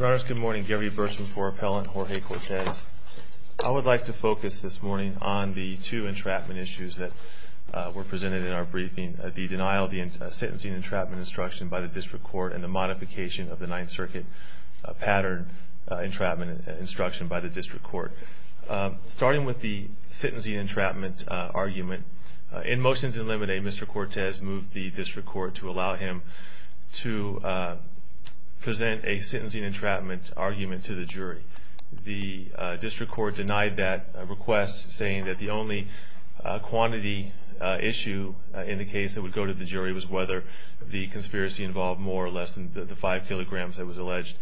I would like to focus this morning on the two entrapment issues that were presented in our briefing. The denial of the sentencing entrapment instruction by the District Court and the modification of the Ninth Circuit pattern entrapment instruction by the District Court. Starting with the sentencing entrapment argument, in motions in Limine, Mr. Cortes moved the District Court to allow him to present a sentencing entrapment argument to the jury. The District Court denied that request saying that the only quantity issue in the case that would go to the jury was whether the conspiracy involved more or less than the five kilograms that was alleged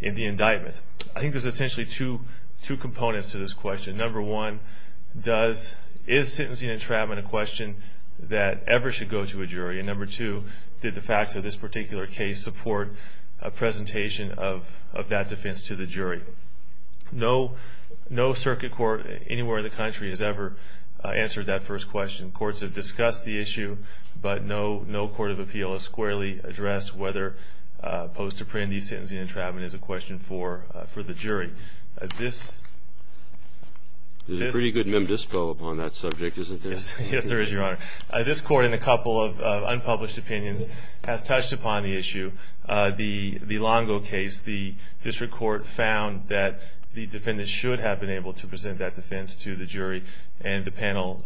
in the indictment. I think there's essentially two components to this question. Number one, is sentencing entrapment a question that ever should go to a jury? And number two, did the facts of this particular case support a presentation of that defense to the jury? No Circuit Court anywhere in the country has ever answered that first question. Courts have discussed the issue, but no court of appeal has squarely addressed whether post-apprehendee sentencing entrapment is a question for the jury. This court in a couple of unpublished opinions has touched upon the issue. The Longo case, the District Court found that the defendant should have been able to present that defense to the jury, and the panel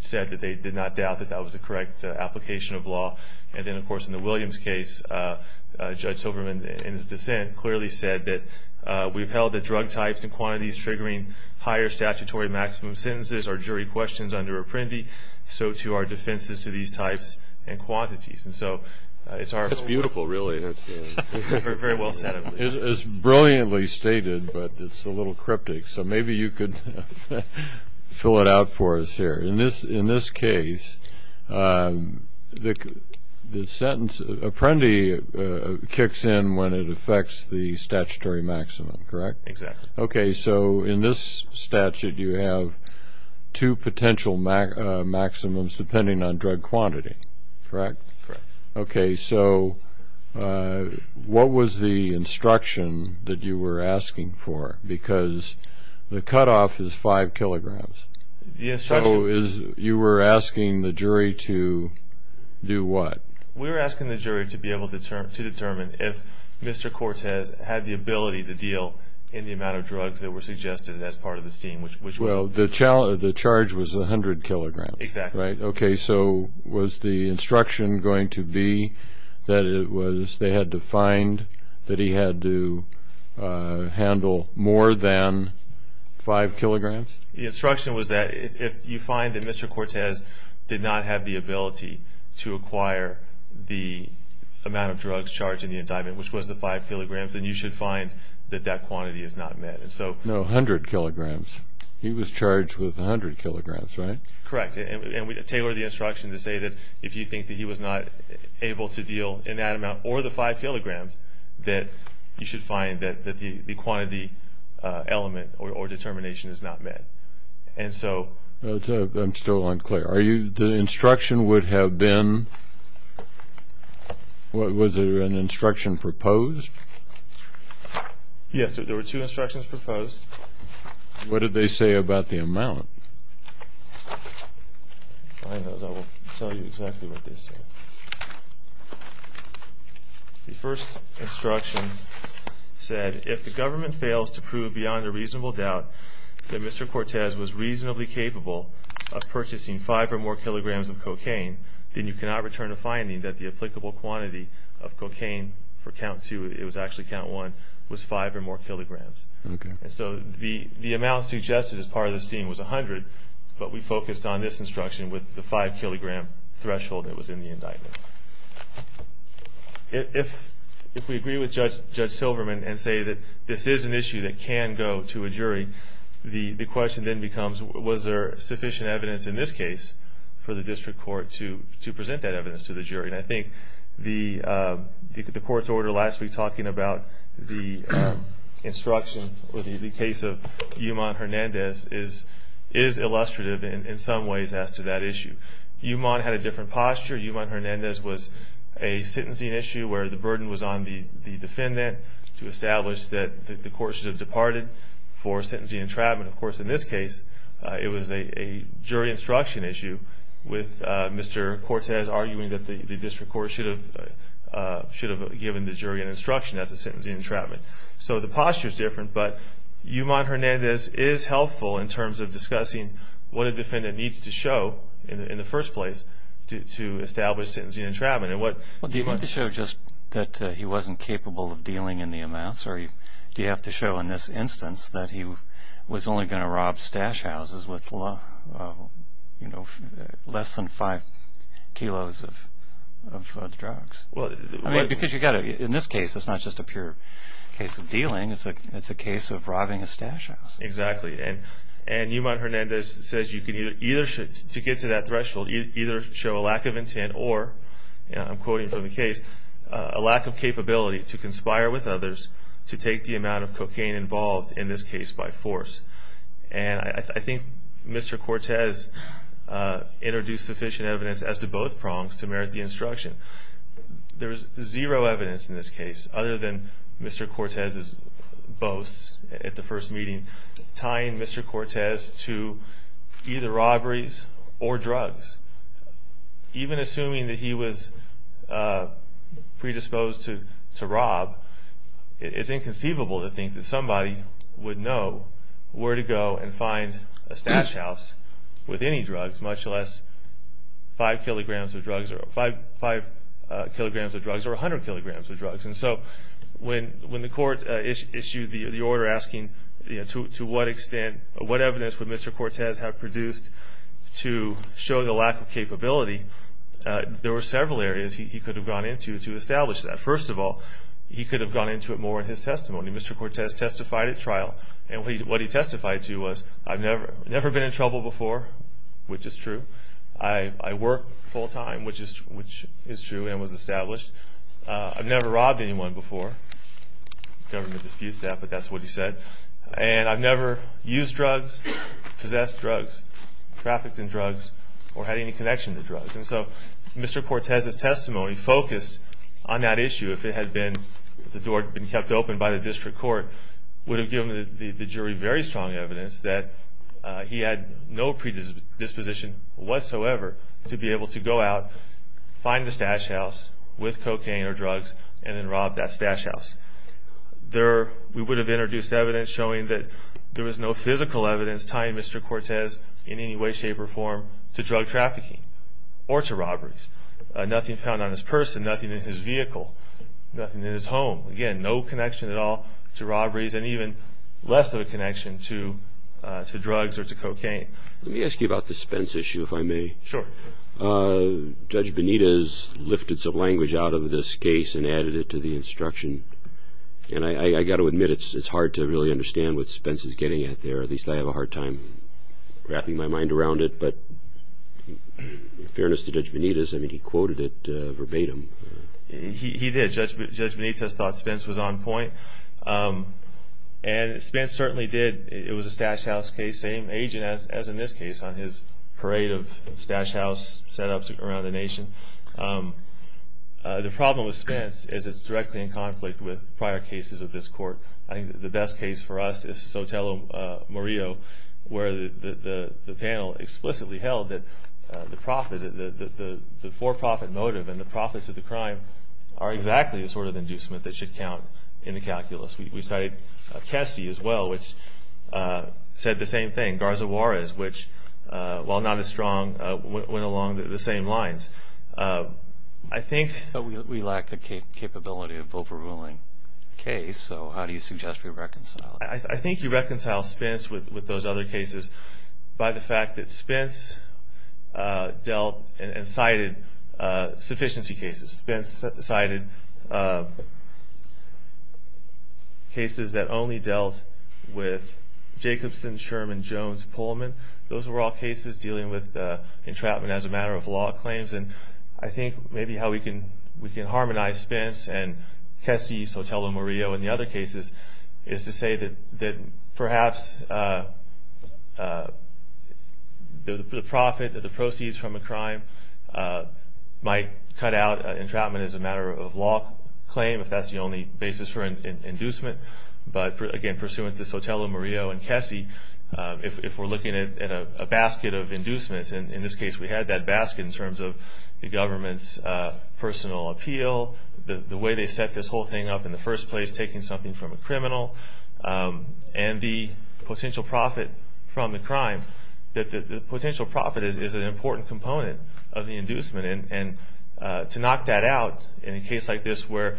said that they did not doubt that that was the correct application of law. And then, of course, in the Williams case, Judge Silverman, in his dissent, clearly said that we've held that drug types and quantities triggering higher statutory maximum sentences are jury questions under apprendee, so too are defenses to these types and quantities. And so it's beautiful, really. It's very well said. It's brilliantly stated, but it's a little cryptic, so maybe you could fill it out for us here. In this case, the sentence apprendee kicks in when it affects the statutory maximum, correct? Exactly. Okay, so in this statute, you have two potential maximums depending on drug quantity, correct? Correct. Okay, so what was the instruction that you were asking for? Because the cutoff is five kilograms. The instruction... So you were asking the jury to do what? We were asking the jury to be able to determine if Mr. Cortez had the ability to deal in the amount of drugs that were suggested as part of this team, which was... Well, the charge was 100 kilograms, right? Exactly. Okay, so was the instruction going to be that it was... they had to find that he had to handle more than five kilograms? The instruction was that if you find that Mr. Cortez did not have the ability to acquire the amount of drugs charged in the indictment, which was the five kilograms, then you should find that that quantity is not met. No, 100 kilograms. He was charged with 100 kilograms, right? Correct. And we tailored the instruction to say that if you think that he was not able to deal in that amount or the five kilograms, that you should find that the quantity element or determination is not met. And so... I'm still unclear. Are you... the instruction would have been... was there an instruction proposed? Yes, there were two instructions proposed. What did they say about the amount? I don't know. I will tell you exactly what they said. The first instruction said, if the government fails to prove beyond a reasonable doubt that Mr. Cortez was reasonably capable of purchasing five or more kilograms of cocaine, then you cannot return a finding that the applicable quantity of cocaine for count two... it was actually count one... was five or more kilograms. Okay. And so the amount suggested as part of the scheme was 100, but we focused on this instruction with the five kilogram threshold that was in the indictment. If we agree with Judge Silverman and say that this is an issue that can go to a jury, the question then becomes, was there sufficient evidence in this case for the district court to present that evidence to the jury? And I think the court's order last week talking about the instruction or the case of Yuman Hernandez is illustrative in some ways as to that issue. Yuman had a different posture. Yuman Hernandez was a sentencing issue where the burden was on the defendant to establish that the court should have departed for sentencing entrapment. Of course, in this case, it was a jury instruction issue with Mr. Cortez arguing that the district court should have given the jury an instruction as to sentencing entrapment. So the posture is different, but Yuman Hernandez is helpful in terms of discussing what a defendant needs to show in the first place to establish sentencing entrapment. Do you have to show just that he wasn't capable of dealing in the amounts, or do you have to show in this instance that he was only going to rob stash houses with less than five kilos of drugs? Because in this case, it's not just a pure case of dealing, it's a case of robbing a stash house. Exactly, and Yuman Hernandez says to get to that threshold, you can either show a lack of intent or, I'm quoting from the case, a lack of capability to conspire with others to take the amount of cocaine involved in this case by force. And I think Mr. Cortez introduced sufficient evidence as to both prongs to merit the instruction. There's zero evidence in this case other than Mr. Cortez's boasts at the first meeting tying Mr. Cortez to either robberies or drugs. Even assuming that he was predisposed to rob, it's inconceivable to think that somebody would know where to go and find a stash house with any drugs, much less five kilograms of drugs or 100 kilograms of drugs. And so when the court issued the order asking to what extent, what evidence would Mr. Cortez have produced to show the lack of capability, there were several areas he could have gone into to establish that. First of all, he could have gone into it more in his testimony. Mr. Cortez testified at trial, and what he testified to was, I've never been in trouble before, which is true. I work full time, which is true and was established. I've never robbed anyone before. The government disputes that, but that's what he said. And I've never used drugs, possessed drugs, trafficked in drugs, or had any connection to drugs. And so Mr. Cortez's testimony focused on that issue. If it had been, if the door had been kept open by the district court, would have given the jury very strong evidence that he had no predisposition whatsoever to be able to go out, find the stash house with cocaine or drugs, and then rob that stash house. There, we would have introduced evidence showing that there was no physical evidence tying Mr. Cortez in any way, shape, or form to drug trafficking or to robberies. Nothing found on his purse, nothing in his vehicle, nothing in his home. Again, no connection at all to robberies, and even less of a connection to drugs or to cocaine. Let me ask you about the Spence issue, if I may. Sure. Judge Benitez lifted some language out of this case and added it to the instruction. And I've got to admit, it's hard to really understand what Spence is getting at there. At least I have a hard time wrapping my mind around it. But in fairness to Judge Benitez, I mean, he quoted it verbatim. He did. Judge Benitez thought Spence was on point. And Spence certainly did. It was a stash house case, same agent as in this case on his parade of stash house setups around the nation. The problem with Spence is it's directly in conflict with prior cases of this court. I think the best case for us is Sotelo Murillo, where the panel explicitly held that the for-profit motive and the profits of the crime are exactly the sort of inducement that should count in the calculus. We studied Kessy as well, which said the same thing. Garza Juarez, which, while not as strong, went along the same lines. We lack the capability of overruling the case, so how do you suggest we reconcile it? I think you reconcile Spence with those other cases by the fact that Spence dealt and cited sufficiency cases. Spence cited cases that only dealt with Jacobson, Sherman, Jones, Pullman. Those were all cases dealing with entrapment as a matter of law claims. And I think maybe how we can harmonize Spence and Kessy, Sotelo Murillo, and the other cases is to say that perhaps the profit or the proceeds from a crime might cut out entrapment as a matter of law claim if that's the only basis for inducement. But again, pursuant to Sotelo Murillo and Kessy, if we're looking at a basket of inducements, and in this case we had that basket in terms of the government's personal appeal, the way they set this whole thing up in the first place, taking something from a criminal, and the potential profit from the crime, that the potential profit is an important component of the inducement. And to knock that out in a case like this where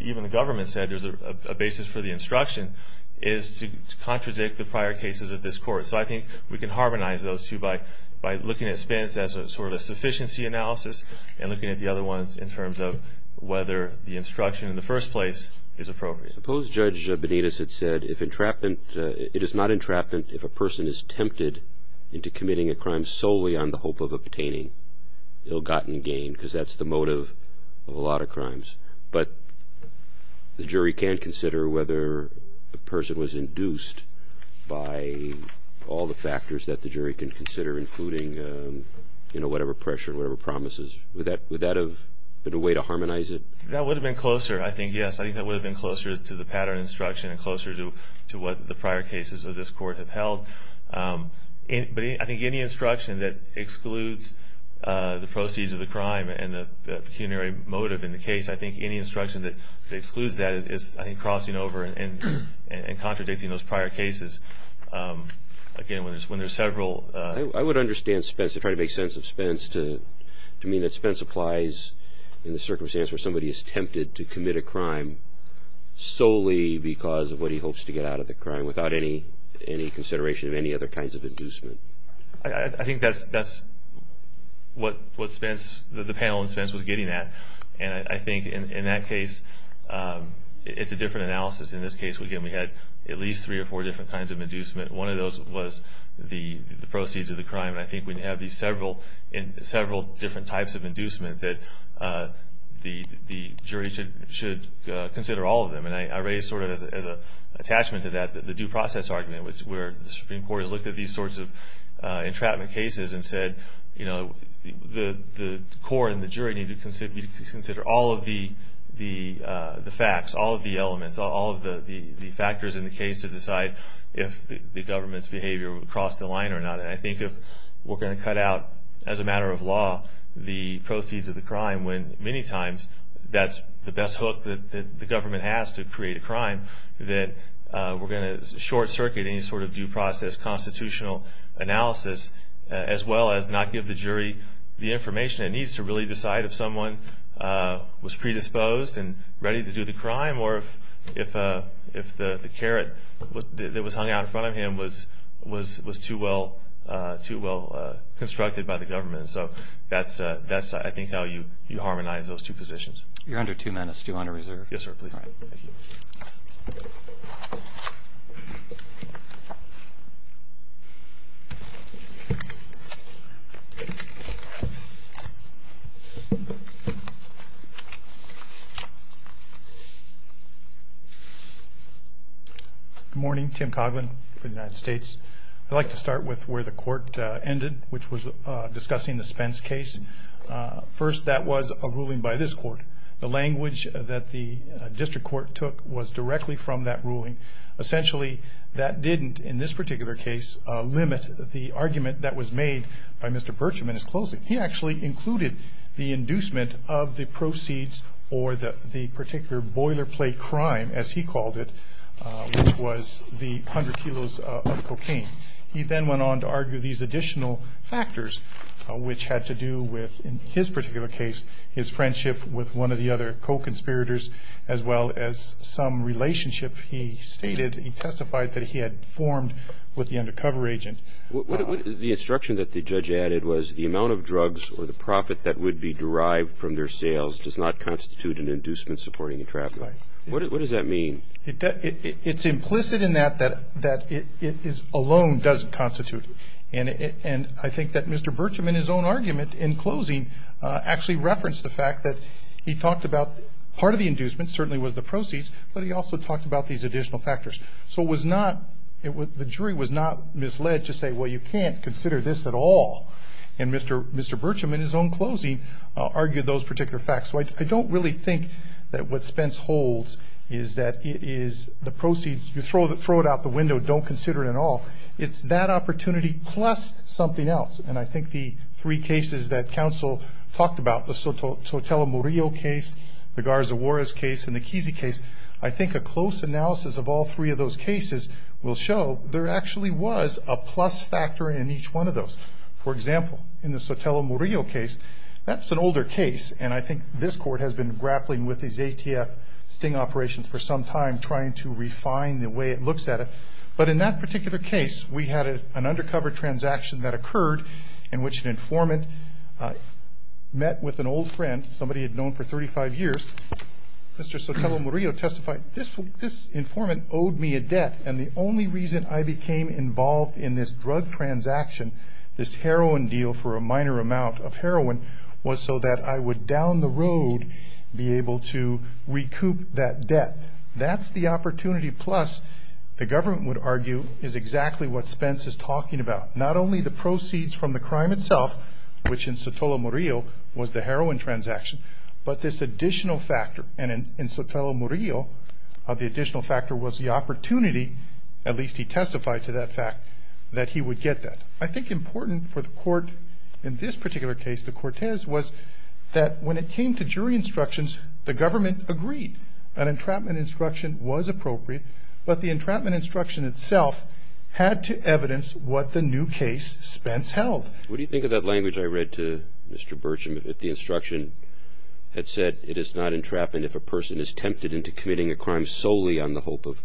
even the government said there's a basis for the instruction is to contradict the prior cases of this Court. So I think we can harmonize those two by looking at Spence as sort of a sufficiency analysis and looking at the other ones in terms of whether the instruction in the first place is appropriate. Suppose Judge Benitez had said, It is not entrapment if a person is tempted into committing a crime solely on the hope of obtaining ill-gotten gain because that's the motive of a lot of crimes. But the jury can consider whether a person was induced by all the factors that the jury can consider, including whatever pressure, whatever promises. Would that have been a way to harmonize it? That would have been closer, I think, yes. Closer to what the prior cases of this Court have held. But I think any instruction that excludes the proceeds of the crime and the pecuniary motive in the case, I think any instruction that excludes that is, I think, crossing over and contradicting those prior cases. Again, when there's several... I would understand Spence, to try to make sense of Spence, to mean that Spence applies in the circumstance where somebody is tempted to commit a crime solely because of what he hopes to get out of the crime, without any consideration of any other kinds of inducement. I think that's what Spence, the panel in Spence, was getting at. And I think in that case, it's a different analysis. In this case, again, we had at least three or four different kinds of inducement. One of those was the proceeds of the crime. And I think we have these several different types of inducement that the jury should consider all of them. And I raise, sort of as an attachment to that, the due process argument, where the Supreme Court has looked at these sorts of entrapment cases and said, the court and the jury need to consider all of the facts, all of the elements, all of the factors in the case to decide if the government's behavior would cross the line or not. And I think if we're going to cut out, as a matter of law, the proceeds of the crime, when many times that's the best hook that the government has to create a crime, that we're going to short circuit any sort of due process constitutional analysis, as well as not give the jury the information it needs to really decide if someone was predisposed and ready to do the crime or if the carrot that was hung out in front of him was too well constructed by the government. So that's, I think, how you harmonize those two positions. You're under two minutes. Do you want to reserve? Yes, sir. Please. Good morning. Tim Coughlin for the United States. I'd like to start with where the court ended, which was discussing the Spence case. First, that was a ruling by this court. The language that the district court took was directly from that ruling. Essentially, that didn't, in this particular case, limit the argument that was made by Mr. Bircham in his closing. He actually included the inducement of the proceeds or the particular boilerplate crime, as he called it, which was the hundred kilos of cocaine. He then went on to argue these additional factors, which had to do with, in his particular case, his friendship with one of the other co-conspirators, as well as some relationship he stated, he testified that he had formed with the undercover agent. The instruction that the judge added was the amount of drugs or the profit that would be derived from their sales does not constitute an inducement supporting a traffic. Right. What does that mean? It's implicit in that that it alone doesn't constitute. And I think that Mr. Bircham, in his own argument, in closing, actually referenced the fact that he talked about part of the inducement certainly was the proceeds, but he also talked about these additional factors. So it was not, the jury was not misled to say, well, you can't consider this at all. And Mr. Bircham, in his own closing, argued those particular facts. So I don't really think that what Spence holds is that it is the proceeds, you throw it out the window, don't consider it at all. It's that opportunity plus something else. And I think the three cases that counsel talked about, the Sotelo Murillo case, the Garza Juarez case, and the Kesey case, I think a close analysis of all three of those cases will show there actually was a plus factor in each one of those. For example, in the Sotelo Murillo case, that's an older case, and I think this court has been grappling with these ATF sting operations for some time, trying to refine the way it looks at it. But in that particular case, we had an undercover transaction that occurred in which an informant met with an old friend, somebody he'd known for 35 years. Mr. Sotelo Murillo testified, this informant owed me a debt, and the only reason I became involved in this drug transaction, this heroin deal for a minor amount of heroin, was so that I would down the road be able to recoup that debt. That's the opportunity plus, the government would argue, is exactly what Spence is talking about. Not only the proceeds from the crime itself, which in Sotelo Murillo was the heroin transaction, but this additional factor, and in Sotelo Murillo, the additional factor was the opportunity, at least he testified to that fact, that he would get that. I think important for the court in this particular case, the Cortez, was that when it came to jury instructions, the government agreed. An entrapment instruction was appropriate, but the entrapment instruction itself had to evidence what the new case Spence held. What do you think of that language I read to Mr. Burcham, if the instruction had said, it is not entrapment if a person is tempted into committing a crime solely on the hope of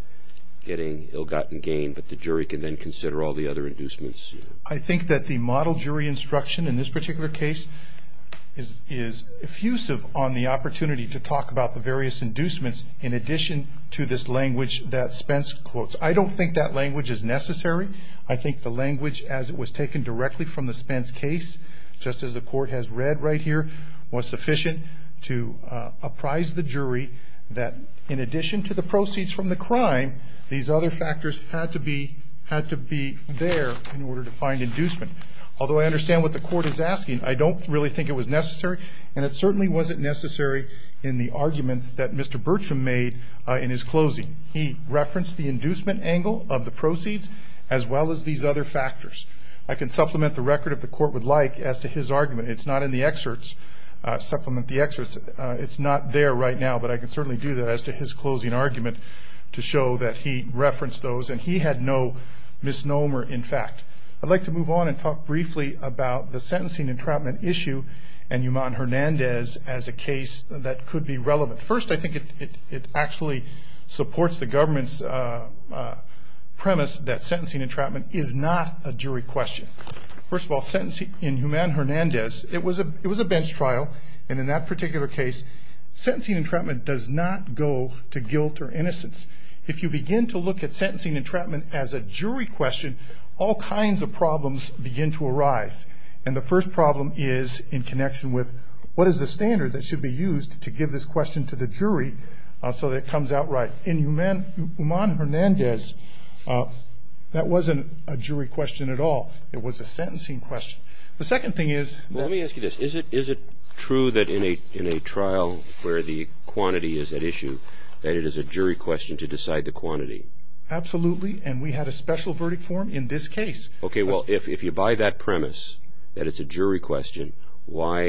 getting ill-gotten gain, but the jury can then consider all the other inducements? I think that the model jury instruction in this particular case is effusive on the opportunity to talk about the various inducements in addition to this language that Spence quotes. I don't think that language is necessary. I think the language, as it was taken directly from the Spence case, just as the court has read right here, was sufficient to apprise the jury that in addition to the proceeds from the crime, these other factors had to be there in order to find inducement. Although I understand what the court is asking, I don't really think it was necessary, and it certainly wasn't necessary in the arguments that Mr. Burcham made in his closing. He referenced the inducement angle of the proceeds as well as these other factors. I can supplement the record, if the court would like, as to his argument. It's not in the excerpts. Supplement the excerpts. It's not there right now, but I can certainly do that as to his closing argument to show that he referenced those, and he had no misnomer, in fact. I'd like to move on and talk briefly about the sentencing entrapment issue and Human Hernandez as a case that could be relevant. First, I think it actually supports the government's premise that sentencing entrapment is not a jury question. First of all, in Human Hernandez, it was a bench trial, and in that particular case, sentencing entrapment does not go to guilt or innocence. If you begin to look at sentencing entrapment as a jury question, all kinds of problems begin to arise, and the first problem is in connection with what is the standard that should be used to give this question to the jury so that it comes out right. In Human Hernandez, that wasn't a jury question at all. It was a sentencing question. The second thing is ---- Let me ask you this. Is it true that in a trial where the quantity is at issue, that it is a jury question to decide the quantity? Absolutely, and we had a special verdict form in this case. Okay. Well, if you buy that premise that it's a jury question, why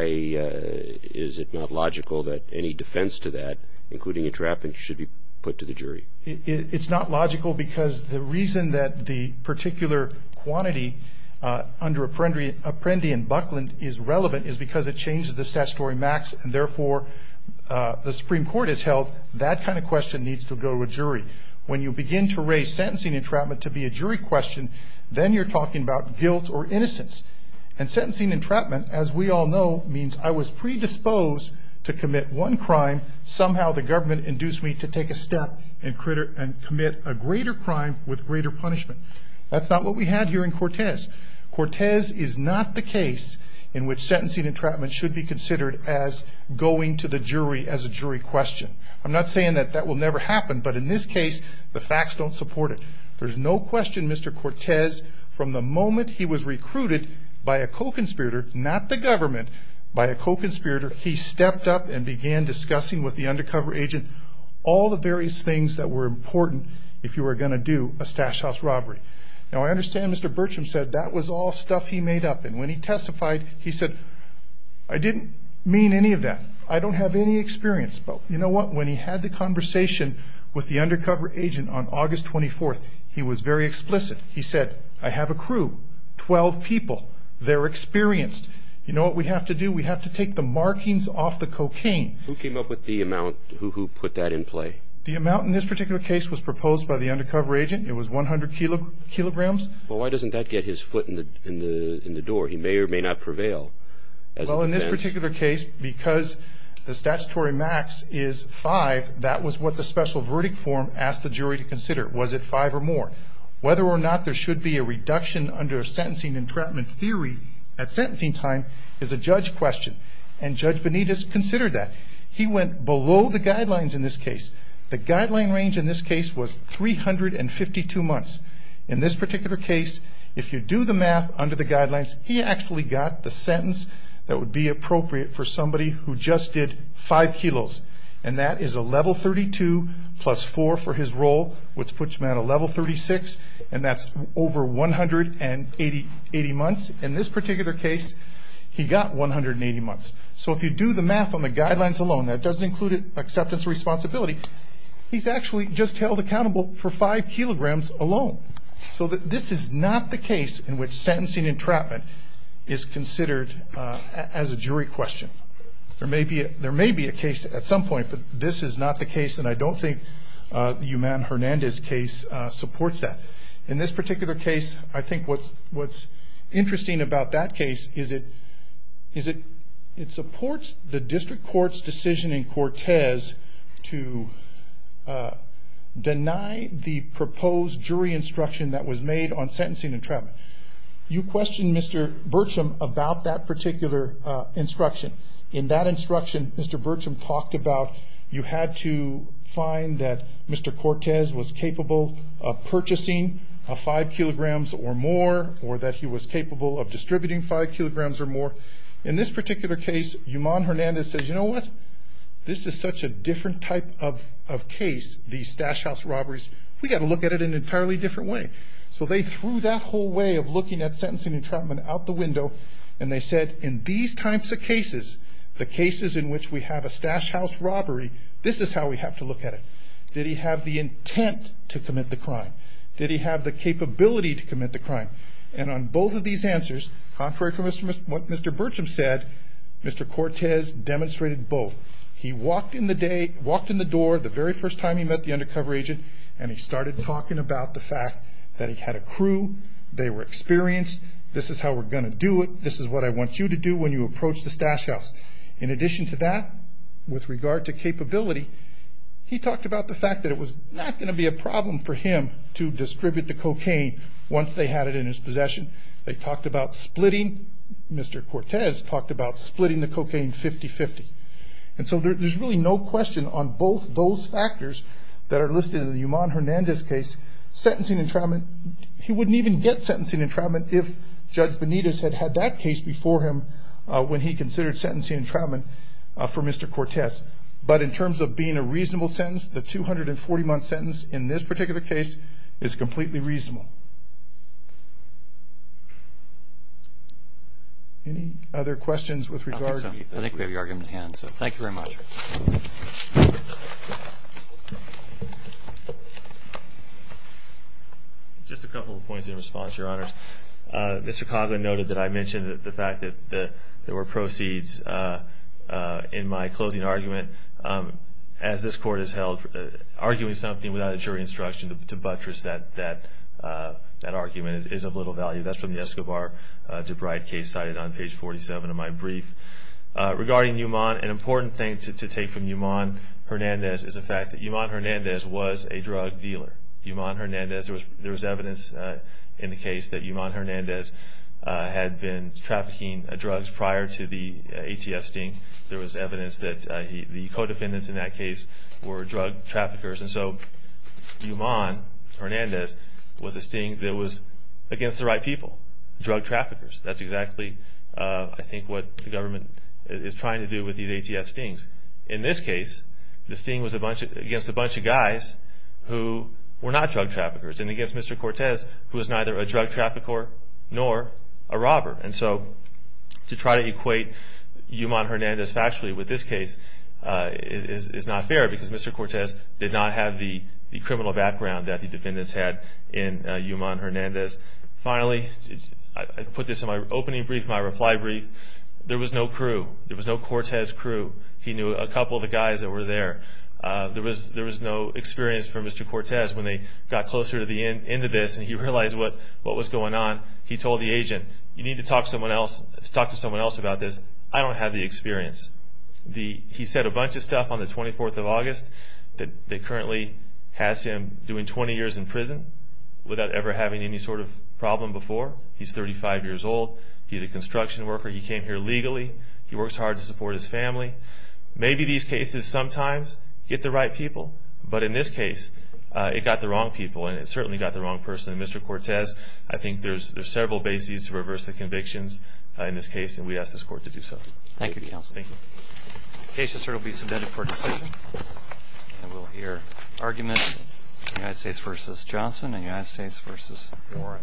is it not logical that any defense to that, including entrapment, should be put to the jury? It's not logical because the reason that the particular quantity under Apprendi and Buckland is relevant is because it changes the statutory max, and therefore the Supreme Court has held that kind of question needs to go to a jury. When you begin to raise sentencing entrapment to be a jury question, then you're talking about guilt or innocence. And sentencing entrapment, as we all know, means I was predisposed to commit one crime. Somehow the government induced me to take a step and commit a greater crime with greater punishment. That's not what we had here in Cortez. Cortez is not the case in which sentencing entrapment should be considered as going to the jury as a jury question. I'm not saying that that will never happen, but in this case the facts don't support it. There's no question Mr. Cortez, from the moment he was recruited by a co-conspirator, not the government, by a co-conspirator, he stepped up and began discussing with the undercover agent all the various things that were important if you were going to do a stash house robbery. Now I understand Mr. Bertram said that was all stuff he made up, and when he testified he said, I didn't mean any of that. I don't have any experience. But you know what? When he had the conversation with the undercover agent on August 24th, he was very explicit. He said, I have a crew, 12 people. They're experienced. You know what we have to do? We have to take the markings off the cocaine. Who came up with the amount? Who put that in play? The amount in this particular case was proposed by the undercover agent. It was 100 kilograms. Well, why doesn't that get his foot in the door? He may or may not prevail. Well, in this particular case, because the statutory max is five, that was what the special verdict form asked the jury to consider. Was it five or more? Whether or not there should be a reduction under sentencing entrapment theory at sentencing time is a judge question, and Judge Benitez considered that. He went below the guidelines in this case. The guideline range in this case was 352 months. In this particular case, if you do the math under the guidelines, he actually got the sentence that would be appropriate for somebody who just did five kilos, and that is a level 32 plus four for his role, which puts him at a level 36, and that's over 180 months. In this particular case, he got 180 months. So if you do the math on the guidelines alone, that doesn't include acceptance or responsibility, he's actually just held accountable for five kilograms alone. So this is not the case in which sentencing entrapment is considered as a jury question. There may be a case at some point, but this is not the case, and I don't think the Yuman Hernandez case supports that. In this particular case, I think what's interesting about that case is it supports the district court's decision in Cortez to deny the proposed jury instruction that was made on sentencing entrapment. You questioned Mr. Burcham about that particular instruction. In that instruction, Mr. Burcham talked about you had to find that Mr. Cortez was capable of purchasing five kilograms or more, or that he was capable of distributing five kilograms or more. In this particular case, Yuman Hernandez says, you know what, this is such a different type of case, these stash house robberies, we've got to look at it in an entirely different way. So they threw that whole way of looking at sentencing entrapment out the window, and they said in these types of cases, the cases in which we have a stash house robbery, this is how we have to look at it. Did he have the intent to commit the crime? Did he have the capability to commit the crime? And on both of these answers, contrary to what Mr. Burcham said, Mr. Cortez demonstrated both. He walked in the door the very first time he met the undercover agent, and he started talking about the fact that he had a crew, they were experienced, this is how we're going to do it, this is what I want you to do when you approach the stash house. In addition to that, with regard to capability, he talked about the fact that it was not going to be a problem for him to distribute the cocaine once they had it in his possession. They talked about splitting, Mr. Cortez talked about splitting the cocaine 50-50. And so there's really no question on both those factors that are listed in the Yuman Hernandez case. Sentencing entrapment, he wouldn't even get sentencing entrapment if Judge Benitez had had that case before him when he considered sentencing entrapment for Mr. Cortez. But in terms of being a reasonable sentence, the 240-month sentence in this particular case is completely reasonable. Any other questions with regard to anything? I think we have your argument at hand, so thank you very much. Just a couple of points in response, Your Honors. Mr. Cogler noted that I mentioned the fact that there were proceeds in my closing argument as this Court has held arguing something without a jury instruction to buttress that argument is of little value. That's from the Escobar-DeBride case cited on page 47 of my brief. Regarding Yuman, an important thing to take from Yuman Hernandez is the fact that Yuman Hernandez was a drug dealer. Yuman Hernandez, there was evidence in the case that Yuman Hernandez had been trafficking drugs prior to the ATF sting. There was evidence that the co-defendants in that case were drug traffickers. And so Yuman Hernandez was a sting that was against the right people, drug traffickers. That's exactly, I think, what the government is trying to do with these ATF stings. In this case, the sting was against a bunch of guys who were not drug traffickers and against Mr. Cortez, who was neither a drug trafficker nor a robber. And so to try to equate Yuman Hernandez factually with this case is not fair because Mr. Cortez did not have the criminal background that the defendants had in Yuman Hernandez. Finally, I put this in my opening brief, my reply brief. There was no crew. There was no Cortez crew. He knew a couple of the guys that were there. There was no experience from Mr. Cortez. When they got closer to the end of this and he realized what was going on, he told the agent, you need to talk to someone else about this. I don't have the experience. He said a bunch of stuff on the 24th of August that currently has him doing 20 years in prison without ever having any sort of problem before. He's 35 years old. He's a construction worker. He came here legally. He works hard to support his family. Maybe these cases sometimes get the right people, but in this case it got the wrong people, and it certainly got the wrong person. And Mr. Cortez, I think there's several bases to reverse the convictions in this case, and we ask this court to do so. Thank you, Counsel. Thank you. The case will certainly be submitted for decision. And we'll hear arguments, United States v. Johnson and United States v. Warren.